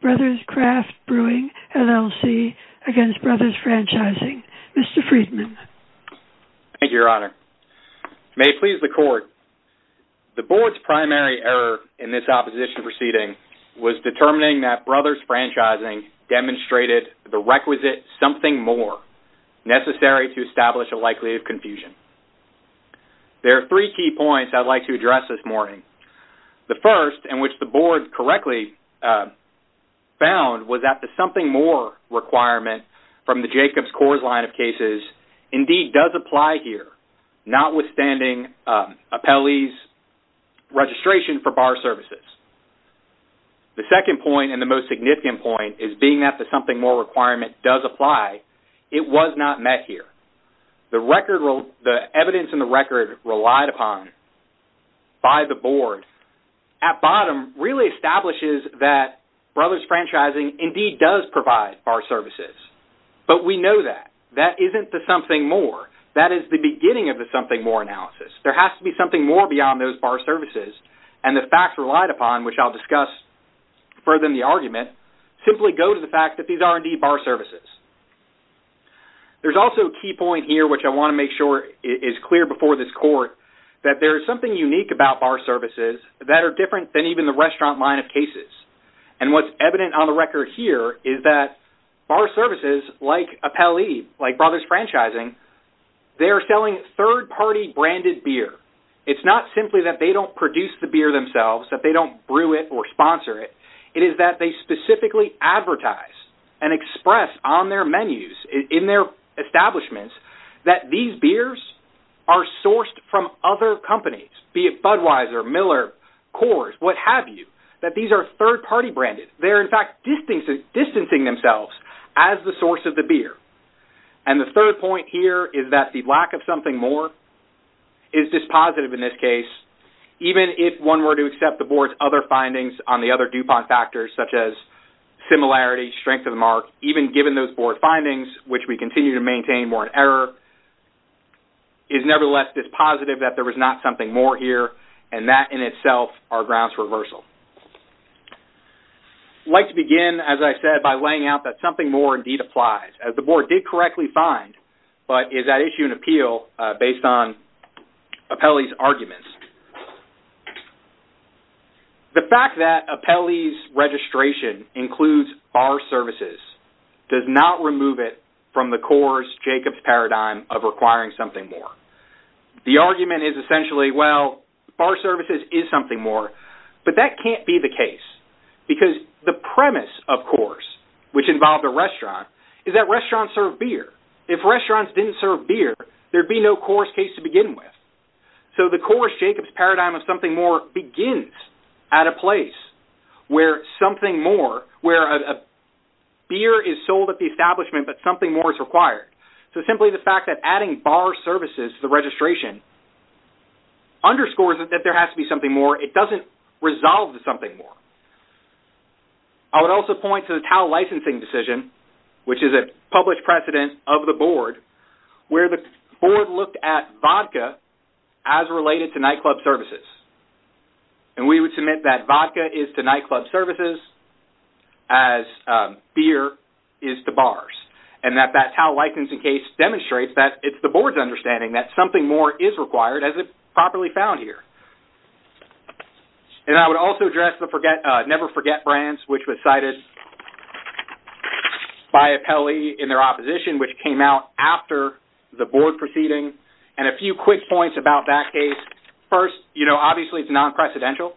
Brothers Craft Brewing, LLC against Brothers Franchising. Mr. Friedman. Thank you, Your Honor. May it please the court, the board's primary error in this opposition proceeding was determining that Brothers Franchising demonstrated the requisite something more necessary to establish a likelihood of confusion. There are three key points I'd like to address this morning. The first, in which the board correctly found was that the something more requirement from the Jacobs-Kors line of cases indeed does apply here, notwithstanding appellee's registration for bar services. The second point, and the most significant point, is being that the something more requirement does apply, it was not met here. The evidence in the record relied upon by the board really establishes that Brothers Franchising indeed does provide bar services, but we know that. That isn't the something more. That is the beginning of the something more analysis. There has to be something more beyond those bar services, and the facts relied upon, which I'll discuss further in the argument, simply go to the fact that these are indeed bar services. There's also a key point here, which I want to make sure is clear before this court, that there is something unique about bar services that are different than even the restaurant line of cases, and what's evident on the record here is that bar services, like appellee, like Brothers Franchising, they are selling third-party branded beer. It's not simply that they don't produce the beer themselves, that they don't brew it or sponsor it. It is that they specifically advertise and express on their menus, in their establishments, that these beers are Budweiser, Miller, Coors, what-have-you, that these are third-party branded. They're in fact distancing themselves as the source of the beer, and the third point here is that the lack of something more is dispositive in this case, even if one were to accept the board's other findings on the other DuPont factors, such as similarity, strength of the mark, even given those board findings, which we continue to maintain warrant error, is nevertheless dispositive that there was not something more here, and that in itself our grounds reversal. I'd like to begin, as I said, by laying out that something more indeed applies. As the board did correctly find, but is that issue an appeal based on appellee's arguments? The fact that appellee's registration includes bar services does not remove it from the Coors-Jacobs paradigm of requiring something more. The essentially, well, bar services is something more, but that can't be the case, because the premise of Coors, which involved a restaurant, is that restaurants serve beer. If restaurants didn't serve beer, there'd be no Coors case to begin with. So the Coors-Jacobs paradigm of something more begins at a place where something more, where a beer is sold at the establishment, but something more is required. So simply the fact that adding bar services to the underscores that there has to be something more, it doesn't resolve to something more. I would also point to the TAL licensing decision, which is a published precedent of the board, where the board looked at vodka as related to nightclub services, and we would submit that vodka is to nightclub services as beer is to bars, and that that TAL licensing case demonstrates that it's the board's understanding that something more is required, as it properly found here. And I would also address the Never Forget brands, which was cited by Apelli in their opposition, which came out after the board proceeding, and a few quick points about that case. First, you know, obviously it's non-precedential,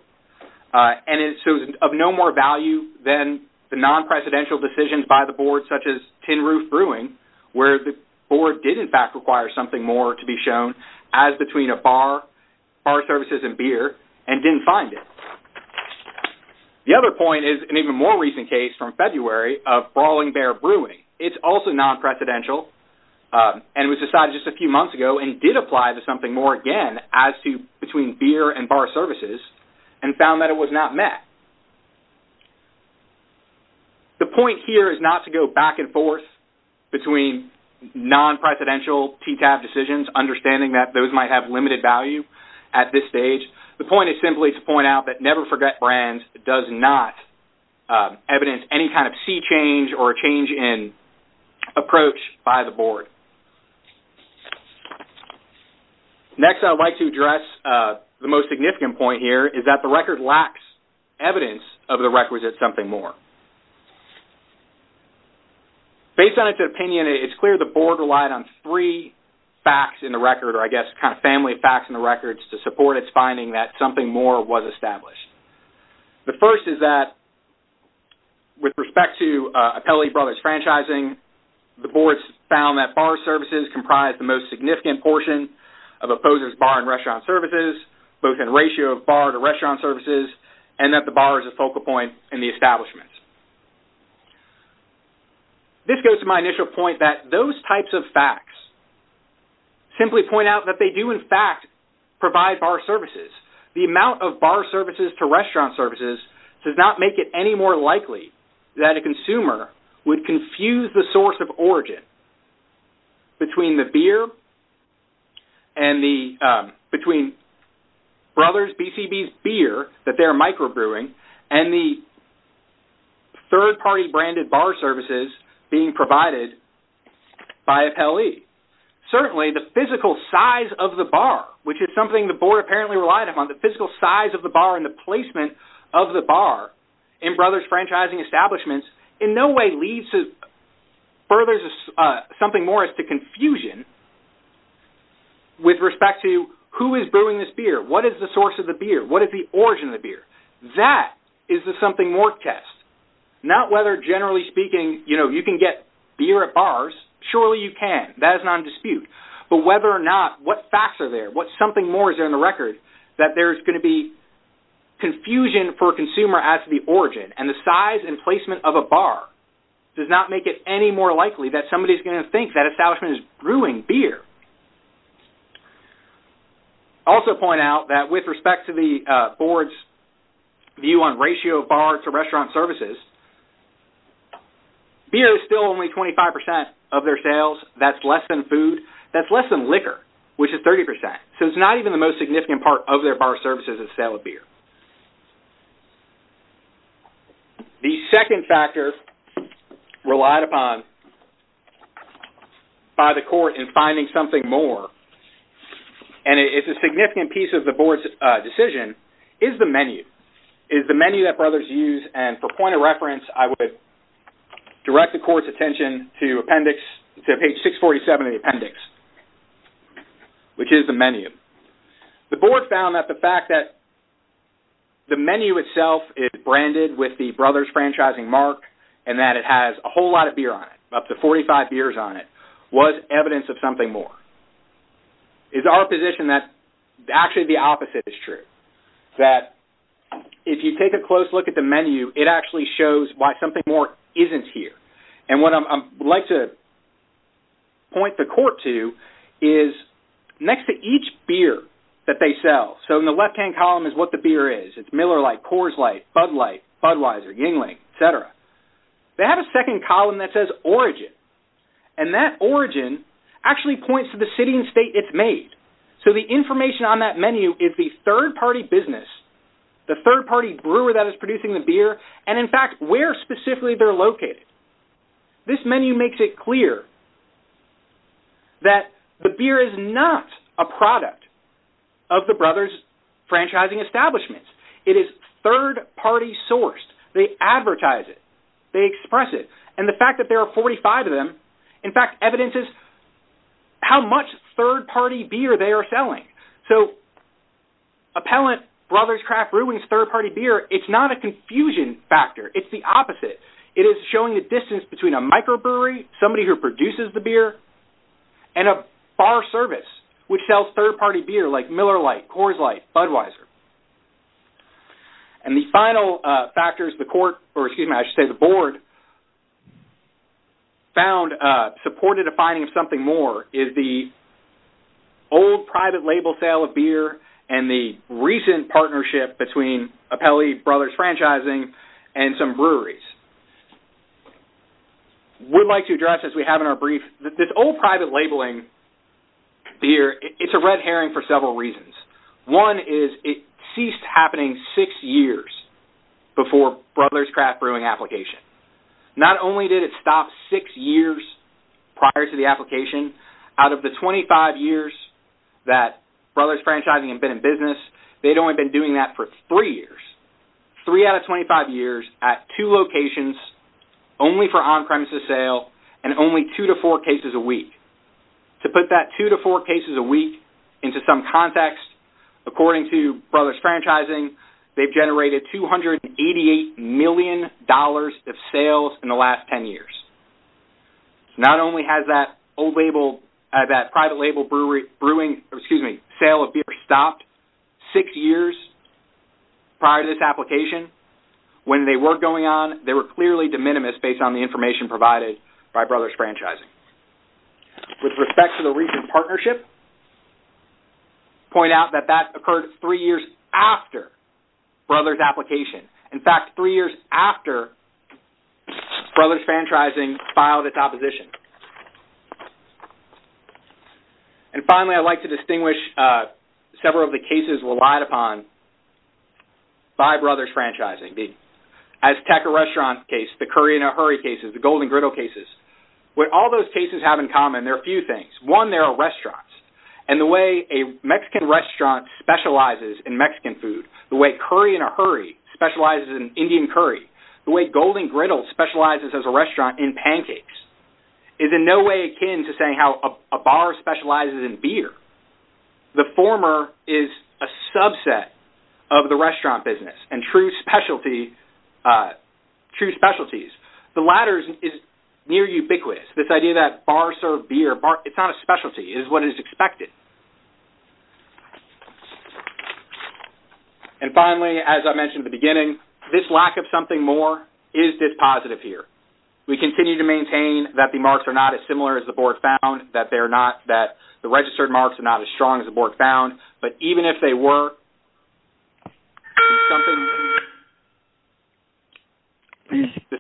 and it's of no more value than the non-precedential decisions by the board, such as tin roof brewing, where the board did in fact require something more to be shown as between a bar, bar services, and beer, and didn't find it. The other point is an even more recent case from February of Brawling Bear Brewing. It's also non-precedential, and was decided just a few months ago, and did apply to something more again as to between beer and bar services, and found that it was not met. The point here is not to go back and forth between non-precedential TTAB decisions, understanding that those might have limited value at this stage. The point is simply to point out that Never Forget brands does not evidence any kind of sea change or change in approach by the board. Next, I would like to address the most significant point here, is that the record lacks evidence of the requisite something more. Based on its opinion, it's clear the board relied on three facts in the record, or I guess kind of family facts in the records, to support its finding that something more was established. The first is that with respect to Appellee Brothers franchising, the boards found that bar services comprised the most significant portion of opposers bar and restaurant services, both in ratio of bar to restaurant services, and that the bar is a focal point in the establishment. This goes to my initial point that those types of facts simply point out that they do in fact provide bar services. The amount of bar services to restaurant services does not make it any more likely that a consumer would confuse the between Brothers BCB's beer that they're micro-brewing and the third-party branded bar services being provided by Appellee. Certainly the physical size of the bar, which is something the board apparently relied upon, the physical size of the bar and the placement of the bar in Brothers franchising establishments, in no way leads to, furthers something more as to confusion with respect to who is brewing this beer, what is the source of the beer, what is the origin of the beer. That is the something more test, not whether generally speaking, you know, you can get beer at bars, surely you can, that is not a dispute, but whether or not what facts are there, what something more is there in the record, that there's going to be confusion for a consumer as to the origin and the size and placement of a bar does not make it any more likely that somebody's going to think that establishment is brewing beer. I also point out that with respect to the board's view on ratio bar to restaurant services, beer is still only 25% of their sales, that's less than food, that's less than liquor, which is 30%, so it's not even the most significant part of their bar services is sale of beer. The second factor relied upon by the court in finding something more, and it's a significant piece of the board's decision, is the menu, is the menu that brothers use, and for point of reference, I would direct the court's attention to appendix, to page 647 of the appendix, which is the menu. The board found that the fact that the menu itself is branded with the brothers franchising mark, and that it has a whole lot of beer on it, up to 45 beers on it, was evidence of something more. It's our position that actually the opposite is true, that if you take a close look at the menu, it actually shows why something more isn't here, and what I'd like to point the court to is next to each beer that they sell, so in the left-hand column is what the beer is, it's Miller Light, Coors Light, Bud Light, Budweiser, Yingling, etc. They have a second column that says origin, and that origin actually points to the city and state it's made, so the information on that menu is the third-party business, the third-party brewer that is producing the beer, and in fact, where specifically they're located. This menu makes it clear that the beer is not a product of the brothers franchising establishments. It is third-party sourced. They advertise it, they express it, and the fact that there are 45 of them, in fact, evidence is how much third-party beer they are selling, so Appellant Brothers Craft Brewing's third-party beer, it's not a confusion factor, it's the opposite. It is showing the distance between a microbrewery, somebody who produces the beer, and a bar service which sells third-party beer like Miller Light, Coors Light, Budweiser, and the final factors the court, or excuse me, I should say the board found, supported a finding of something more, is the old private label sale of beer and the recent partnership between Appellee Brothers Franchising and some breweries. We'd like to address, as we have in our brief, that this old private labeling beer, it's a red herring for several reasons. One is it ceased happening six years before Brothers Craft Brewing application. Not only did it stop six years prior to the application, out of the 25 years that Brothers Franchising had been in business, they'd only been doing that for three years. Three out of two locations, only for on-premises sale, and only two to four cases a week. To put that two to four cases a week into some context, according to Brothers Franchising, they've generated 288 million dollars of sales in the last ten years. Not only has that old label, that private label brewing, excuse me, sale of beer stopped six years prior to this application, when they were going on they were clearly de minimis based on the information provided by Brothers Franchising. With respect to the recent partnership, point out that that occurred three years after Brothers application. In fact, three years after Brothers Franchising filed its opposition. And finally, I'd like to distinguish several of the cases relied upon by Brothers Franchising. The Azteca restaurant case, the curry in a hurry cases, the golden griddle cases. What all those cases have in common, there are a few things. One, there are restaurants. And the way a Mexican restaurant specializes in Mexican food, the way curry in a hurry specializes in Indian curry, the way golden griddle specializes as a restaurant in pancakes, is in no way akin to saying how a bar specializes in beer. The former is a subset of the restaurant business and true specialty, true specialties. The latter is near ubiquitous. This idea that bar served beer, it's not a specialty, it is what is expected. And finally, as I mentioned at the beginning, this lack of something more is this positive here. We continue to maintain that the marks are not as similar as the board found, that they're registered marks are not as strong as the board found, but even if they were,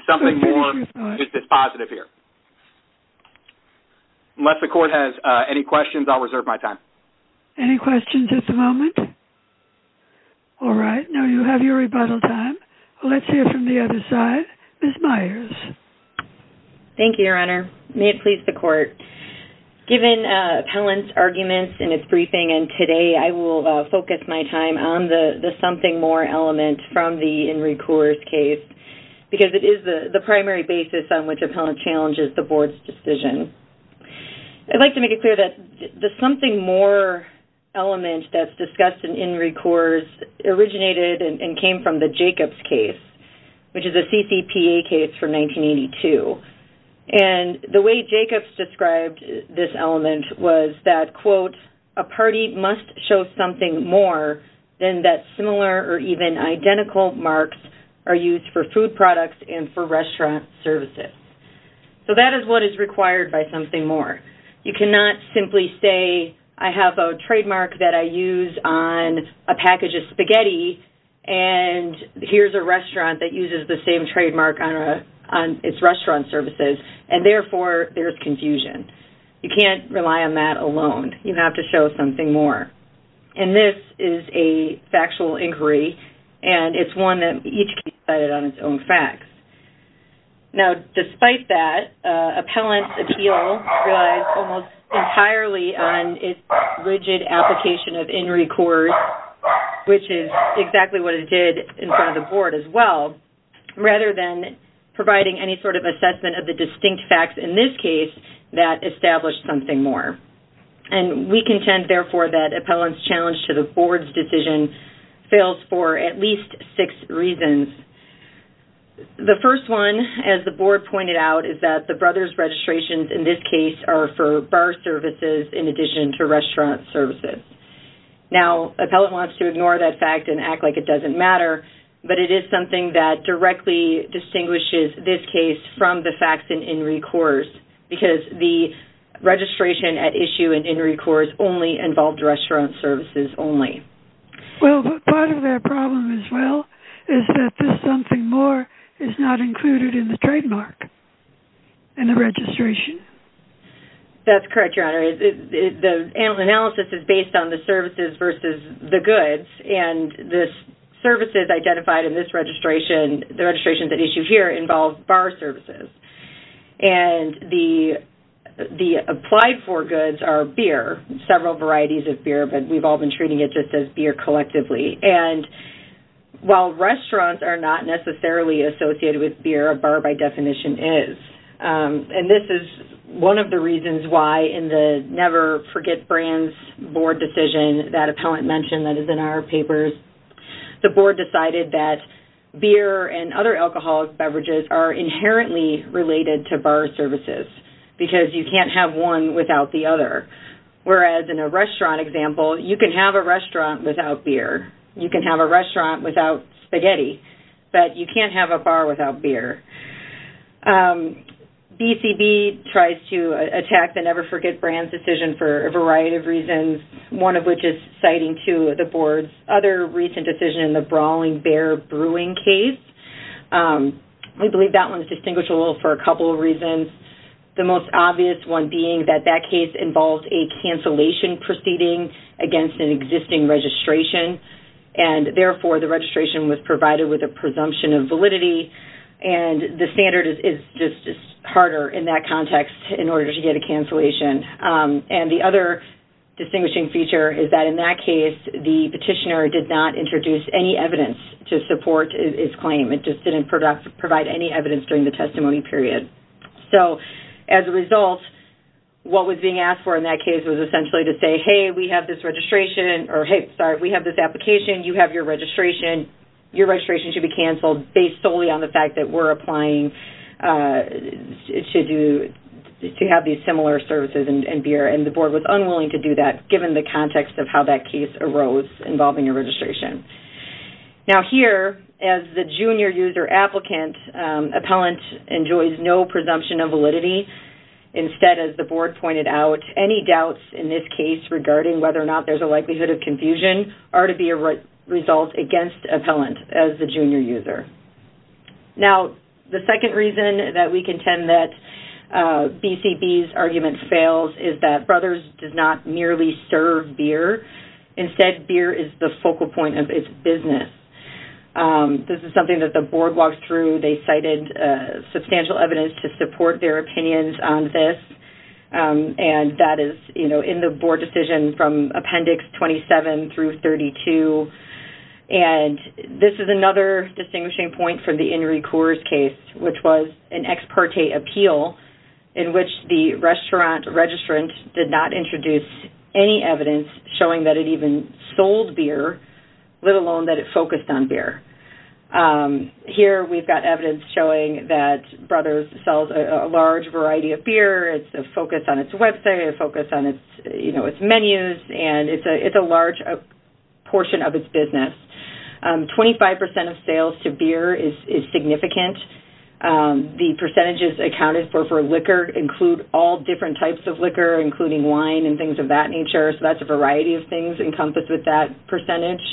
something more is this positive here. Unless the court has any questions, I'll reserve my time. Any questions at the moment? All right, now you have your rebuttal time. Let's hear from the other side. Ms. Myers. Thank you, Your Honor. May it please the court. Given Appellant's arguments in its briefing and today, I will focus my time on the something more element from the In Re Coors case because it is the primary basis on which Appellant challenges the board's decision. I'd like to make it clear that the something more element that's discussed in In Re Coors originated and came from the Jacobs case, which is a Jacobs described this element was that, quote, a party must show something more than that similar or even identical marks are used for food products and for restaurant services. So that is what is required by something more. You cannot simply say, I have a trademark that I use on a package of spaghetti and here's a restaurant that uses the same trademark on its restaurant services and therefore there's confusion. You can't rely on that alone. You have to show something more. And this is a factual inquiry and it's one that each can be decided on its own facts. Now despite that, Appellant's appeal relies almost entirely on its rigid application of In Re Coors, which is exactly what it did in front of the board as well, rather than providing any sort of assessment of the distinct facts in this case that establish something more. And we contend therefore that Appellant's challenge to the board's decision fails for at least six reasons. The first one, as the board pointed out, is that the brothers registrations in this case are for bar services in addition to restaurant services. Now Appellant wants to ignore that fact and act like it doesn't matter, but it is something that directly distinguishes this case from the facts in In Re Coors, because the registration at issue in In Re Coors only involved restaurant services only. Well part of their problem as well is that this something more is not included in the trademark and the registration. That's correct, Your Honor. The analysis is based on the services versus the services identified in this registration. The registrations at issue here involve bar services. And the applied for goods are beer, several varieties of beer, but we've all been treating it just as beer collectively. And while restaurants are not necessarily associated with beer, a bar by definition is. And this is one of the reasons why in the Never Forget Brands board decision that Appellant mentioned that is in our papers, the board decided that beer and other alcoholic beverages are inherently related to bar services, because you can't have one without the other. Whereas in a restaurant example, you can have a restaurant without beer. You can have a restaurant without spaghetti, but you can't have a bar without beer. BCB tries to attack the Never Forget Brands decision for a variety of reasons, one of which is citing to the board's other recent decision in the Brawling Bear Brewing case. We believe that one is distinguished a little for a couple of reasons. The most obvious one being that that case involves a cancellation proceeding against an existing registration, and therefore the registration was provided with a presumption of validity. And the standard is just harder in that context in order to get a cancellation. And the other distinguishing feature is that in that case, the petitioner did not introduce any evidence to support his claim. It just didn't provide any evidence during the testimony period. So as a result, what was being asked for in that case was essentially to say, hey, we have this registration, or hey, sorry, we have this application, you have your registration, your registration should be canceled based solely on the fact that we're applying to have these similar services and beer. And the board was unwilling to do that given the context of how that case arose involving a registration. Now here, as the junior user applicant, appellant enjoys no presumption of validity. Instead, as the board pointed out, any doubts in this case regarding whether or not there's a likelihood of confusion are to be a result against appellant as the junior user. Now, the second reason that we contend that BCB's argument fails is that Brothers does not merely serve beer. Instead, beer is the focal point of its business. This is something that the board walked through. They cited substantial evidence to support their opinions on this. And that is, you know, in the board decision from Appendix 27 through 32. And this is another distinguishing point from the Inri Coors case, which was an ex parte appeal in which the restaurant registrant did not introduce any evidence showing that it even sold beer, let alone that it focused on beer. Here, we've got evidence showing that Brothers sells a large variety of beer, it's a focus on its website, a focus on its menus, and it's a large portion of its business. 25% of sales to beer is significant. The percentages accounted for for liquor include all different types of liquor, including wine and things of that nature. So that's a variety of things encompassed with that percentage.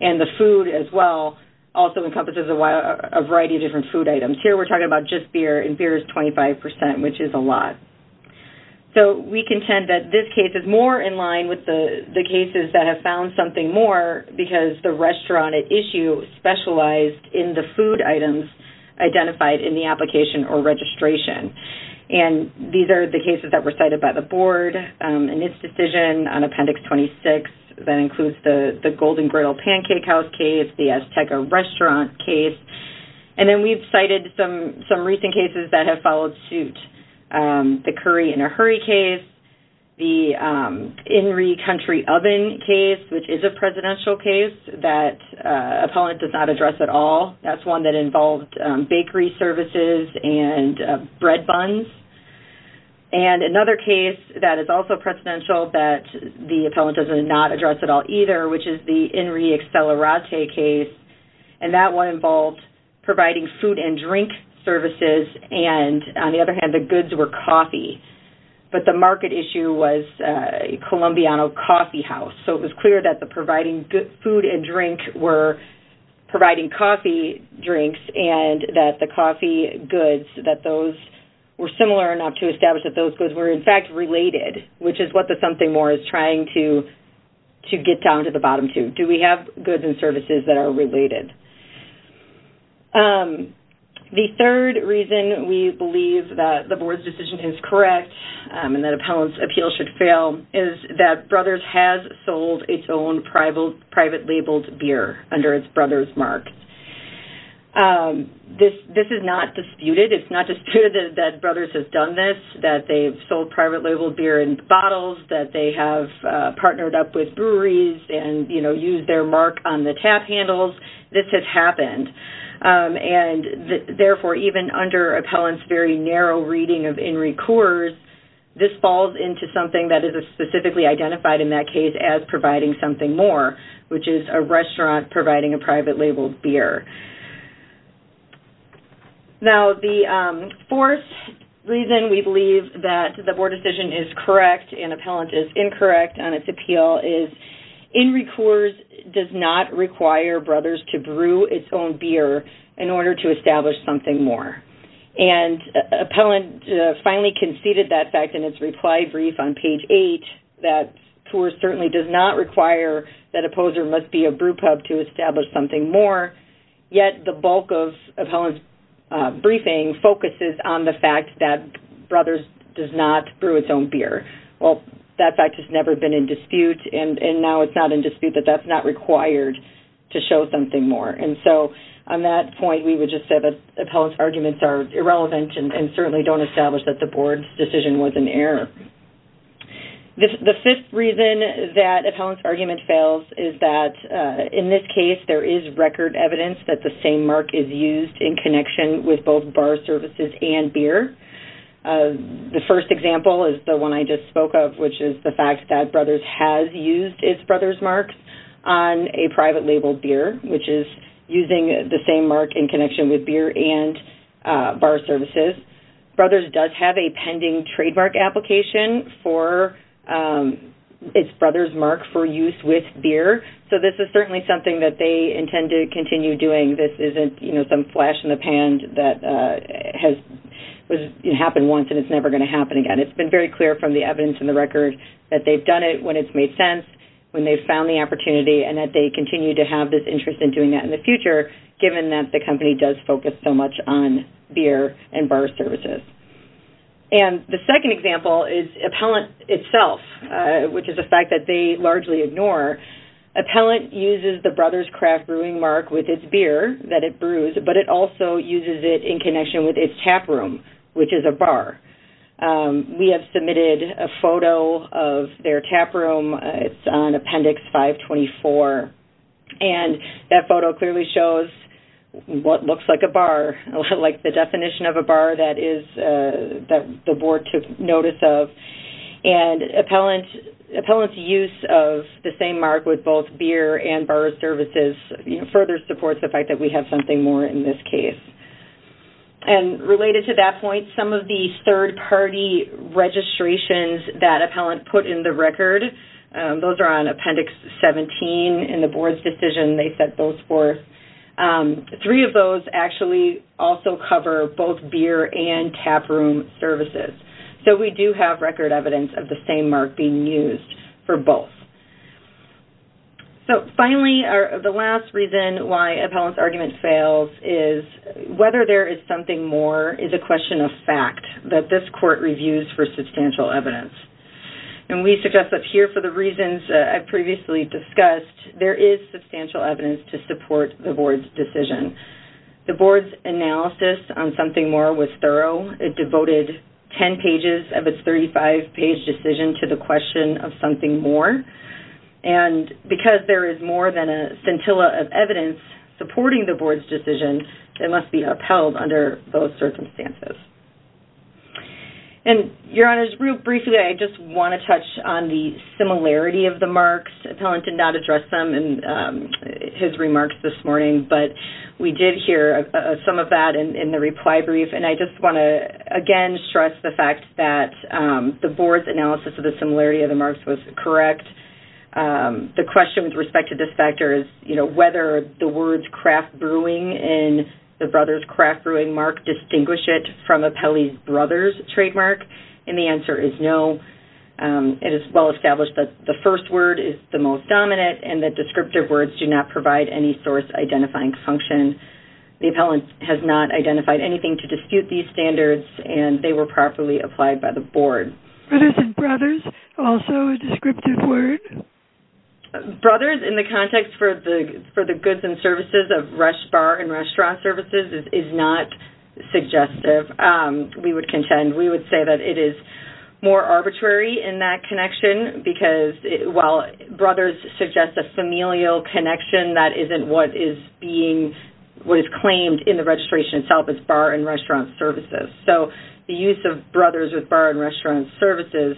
And the food as well, also encompasses a variety of different food items. Here, we're talking about just beer, and beer is 25%, which is a lot. So we contend that this case is more in line with the cases that have found something more because the restaurant at issue specialized in the food items identified in the application or registration. And these are the cases that were cited by the board in its decision on Appendix 26. That includes the Golden Griddle Pancake House case, the Azteca Restaurant case. And then we've cited some some recent cases that have followed suit. The Curry in a Hurry case, the INRI Country Oven case, which is a presidential case that appellant does not address at all. That's one that involved bakery services and bread buns. And another case that is also presidential that the appellant doesn't not address at all either, which is the INRI Accelerate case. And that one involved providing food and drink services. And on the other hand, the goods were coffee. But the market issue was Colombiano Coffee House. So it was clear that the providing good food and drink were providing coffee drinks and that the coffee goods that those were similar enough to establish that those goods were in fact related, which is what the something more is trying to, to get down to the bottom two. Do we have goods and services that are related? Um, the third reason we believe that the board's decision is correct, and that appellants appeal should fail is that Brothers has sold its own private, private labeled beer under its Brothers mark. This, this is not disputed. It's not disputed that Brothers has done this, that they've sold private labeled beer in bottles that they have partnered up with breweries and, you know, use their mark on the tap handles. This has happened. And therefore, even under appellants very narrow reading of INRI Coors, this falls into something that is specifically identified in that case as providing something more, which is a restaurant providing a private labeled beer. Now, the fourth reason we believe that the board decision is correct and appellant is incorrect on its appeal is INRI Coors does not require Brothers to brew its own beer in order to establish something more. And appellant finally conceded that fact in its reply brief on page eight, that Coors certainly does not require that a poser must be a brewpub to establish something more. Yet the bulk of appellant's briefing focuses on the fact that Brothers does not brew its own beer. Well, that fact has never been in dispute, but now it's not in dispute that that's not required to show something more. And so on that point, we would just say that appellant's arguments are irrelevant and certainly don't establish that the board's decision was an error. The fifth reason that appellant's argument fails is that in this case, there is record evidence that the same mark is used in connection with both bar services and beer. The first example is the one I just spoke of, which is the fact that Brothers has used its Brothers marks on a private label beer, which is using the same mark in connection with beer and bar services. Brothers does have a pending trademark application for its Brothers mark for use with beer. So this is certainly something that they intend to continue doing. This isn't, you know, some flash in the pan that has happened once and it's never going to happen again. It's been very clear from the evidence in the record that they've done it when it's made sense, when they found the opportunity, and that they continue to have this interest in doing that in the future, given that the company does focus so much on beer and bar services. And the second example is appellant itself, which is a fact that they largely ignore. Appellant uses the Brothers craft brewing mark with its beer that it brews, but it also uses it in connection with its tap room, which is a bar. We have submitted a photo of their tap room. It's on appendix 524. And that photo clearly shows what looks like a bar, like the definition of a bar that is that the board took notice of. And appellant's use of the same mark with both beer and bar services further supports the fact that we have something more in this case. And related to that point, some of the third party registrations that appellant put in the record, those are on appendix 17 in the board's decision, they set those forth. Three of those actually also cover both beer and tap room services. So we do have record evidence of the same mark being used for both. So finally, the last reason why appellant's argument fails is whether there is something more is a question of fact that this court reviews for substantial evidence. And we suggest that here for the reasons I've previously discussed, there is substantial evidence to support the board's decision. The board's analysis on something more was thorough, it devoted 10 pages of its 35 page decision to the question of something more. And because there is more than a scintilla of evidence supporting the board's decision, it must be upheld under those circumstances. And your honors, real briefly, I just want to touch on the similarity of the marks. Appellant did not address them in his remarks this morning, but we did hear some of that in the reply brief. And I just want to, again, stress the fact that the board's analysis of the similarity of the marks was correct. The question with respect to this factor is, you know, whether the words craft brewing and the brother's craft brewing mark distinguish it from appellee's brother's trademark. And the answer is no. It is well established that the first word is the most dominant and that descriptive words do not provide any source identifying function. The appellant has not identified anything to dispute these standards, and they were properly applied by the board. Brothers and brothers, also a descriptive word? Brothers in the context for the goods and services of bar and restaurant services is not suggestive, we would contend. We would say that it is more arbitrary in that connection, because while brothers suggest a familial connection, that isn't what is being, what is claimed in the registration itself as bar and restaurant services. So the use of brothers with bar and restaurant services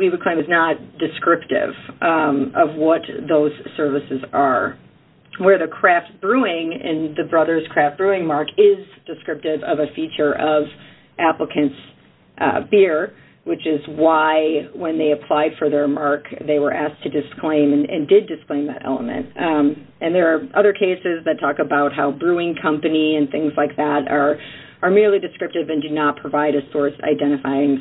is not descriptive of what those services are. Where the craft brewing and the brother's craft brewing mark is descriptive of a feature of applicant's beer, which is why when they applied for their mark, they were asked to disclaim and did disclaim that element. And there are other cases that talk about how brewing company and things like that are merely descriptive and do not provide a source identifying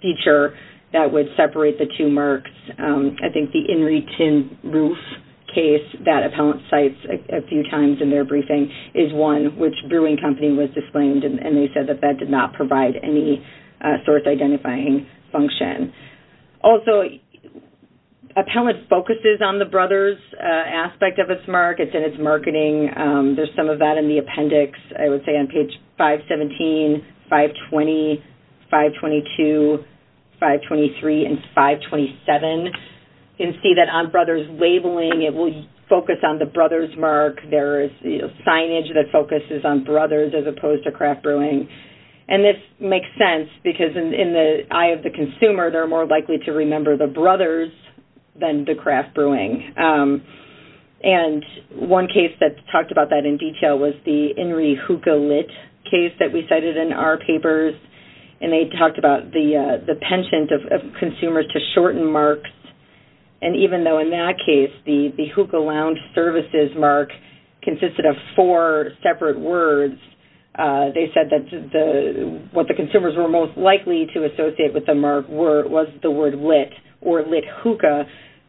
feature that would separate the two marks. I think the in-retain roof case that appellant cites a few times in their briefing is one which brewing company was disclaimed, and they said that that did not provide any source identifying function. Also, appellant focuses on the brothers aspect of its markets and its marketing. There's some of that in the appendix, I would say on page 517, 520, 522, 523, and 527. You can see that on brothers labeling, it will focus on the brothers mark. There is the signage that focuses on brothers as opposed to craft brewing. And this makes sense, because in the eye of the consumer, they're more likely to remember the brothers than the craft brewing. And one case that talked about that in detail was the Inri hookah lit case that we cited in our papers, and they talked about the penchant of consumers to shorten marks. And even though in that case, the hookah lounge services mark consisted of four separate words, they said that what the consumers were most likely to associate with the mark was the word lit or lit hookah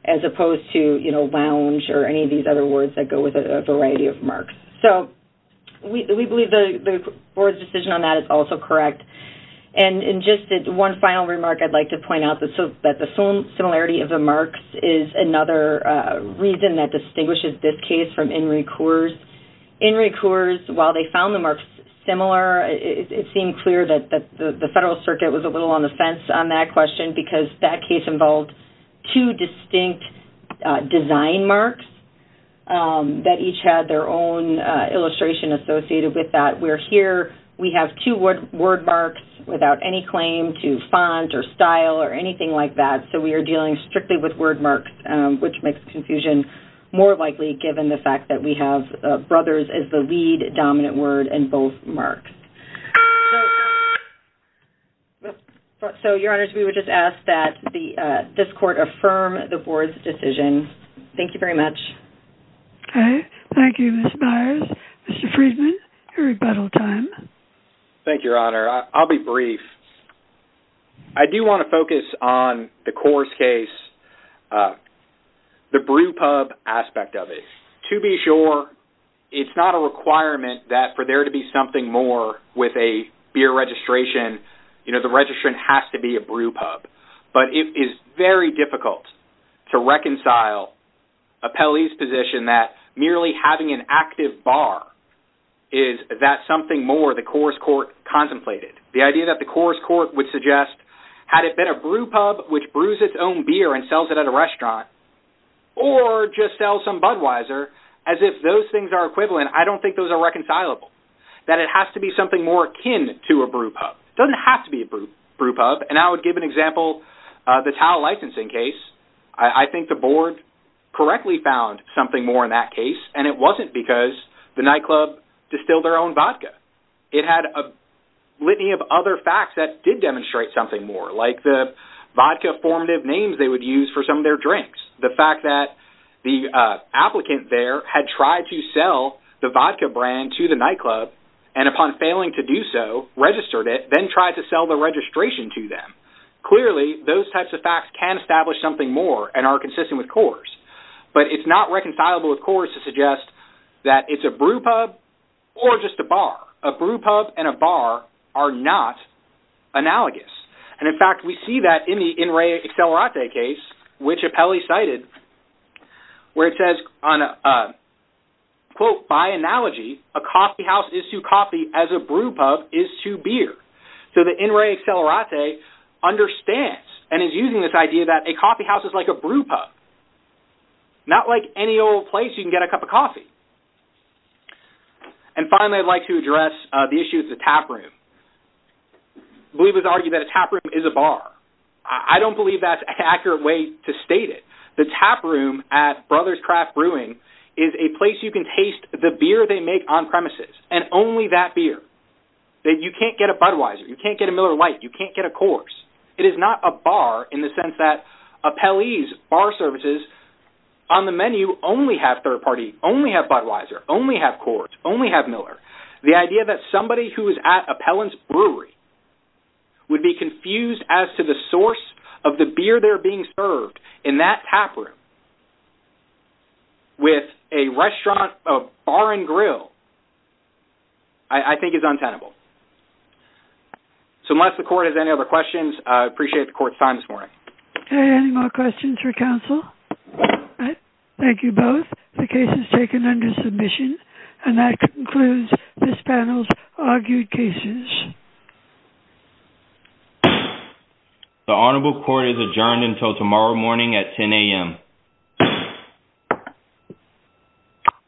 as opposed to, you know, lounge or any of other words that go with a variety of marks. So we believe the board's decision on that is also correct. And in just one final remark, I'd like to point out that the similarity of the marks is another reason that distinguishes this case from Inri Coors. Inri Coors, while they found the marks similar, it seemed clear that the Federal Circuit was a little on the fence on that question, because that case involved two distinct design marks that each had their own illustration associated with that. Where here, we have two word marks without any claim to font or style or anything like that, so we are dealing strictly with word marks, which makes confusion more likely, given the fact that we have brothers as the lead dominant word in both marks. So your Honors, we would just ask that this court affirm the board's decision. Thank you very much. Okay, thank you, Ms. Myers. Mr. Friedman, your rebuttal time. Thank you, Your Honor. I'll be brief. I do want to focus on the Coors case, the brew pub aspect of it. To be sure, it's not a requirement that for there to be something more with a beer registration, you know, the registration has to be a brew pub, but it is very difficult to reconcile Appellee's position that merely having an active bar is that something more the Coors court contemplated. The idea that the Coors court would suggest, had it been a brew pub which brews its own beer and sells it at a restaurant, or just sells some Budweiser, as if those things are equivalent, I don't think those are reconcilable. That it has to be something more akin to a brew pub. Doesn't have to be a brew pub. And I would give an example, the Tao licensing case. I think the board correctly found something more in that case, and it wasn't because the nightclub distilled their own vodka. It had a litany of other facts that did demonstrate something more, like the vodka formative names they would use for some of their drinks. The fact that the applicant there had tried to sell the vodka brand to the nightclub, and upon failing to do so, registered it, then tried to sell the registration to them. Clearly, those types of facts can establish something more, and are consistent with Coors. But it's not reconcilable with Coors to suggest that it's a brew pub, or just a bar. A brew pub and a bar are not analogous. And in fact, we see that in the In Re Accelerate case, which Appellee cited, where it says, quote, by analogy, a coffee house is to the In Re Accelerate understands, and is using this idea that a coffee house is like a brew pub. Not like any old place you can get a cup of coffee. And finally, I'd like to address the issue of the tap room. We would argue that a tap room is a bar. I don't believe that's an accurate way to state it. The tap room at Brothers Craft Brewing is a place you can taste the beer they make on premises, and only that beer. That you can't get a Budweiser, you can't get a Miller Lite, you can't get a Coors. It is not a bar in the sense that Appellee's bar services on the menu only have third-party, only have Budweiser, only have Coors, only have Miller. The idea that somebody who is at Appellee's Brewery would be confused as to the source of the beer they're being served in that tap room, with a restaurant, a bar and grill, I think is untenable. So unless the court has any other questions, I appreciate the court's time this morning. Any more questions for counsel? Thank you both. The case is taken under submission, and that concludes this panel's argued cases. The honorable court is adjourned until tomorrow morning at 10 a.m.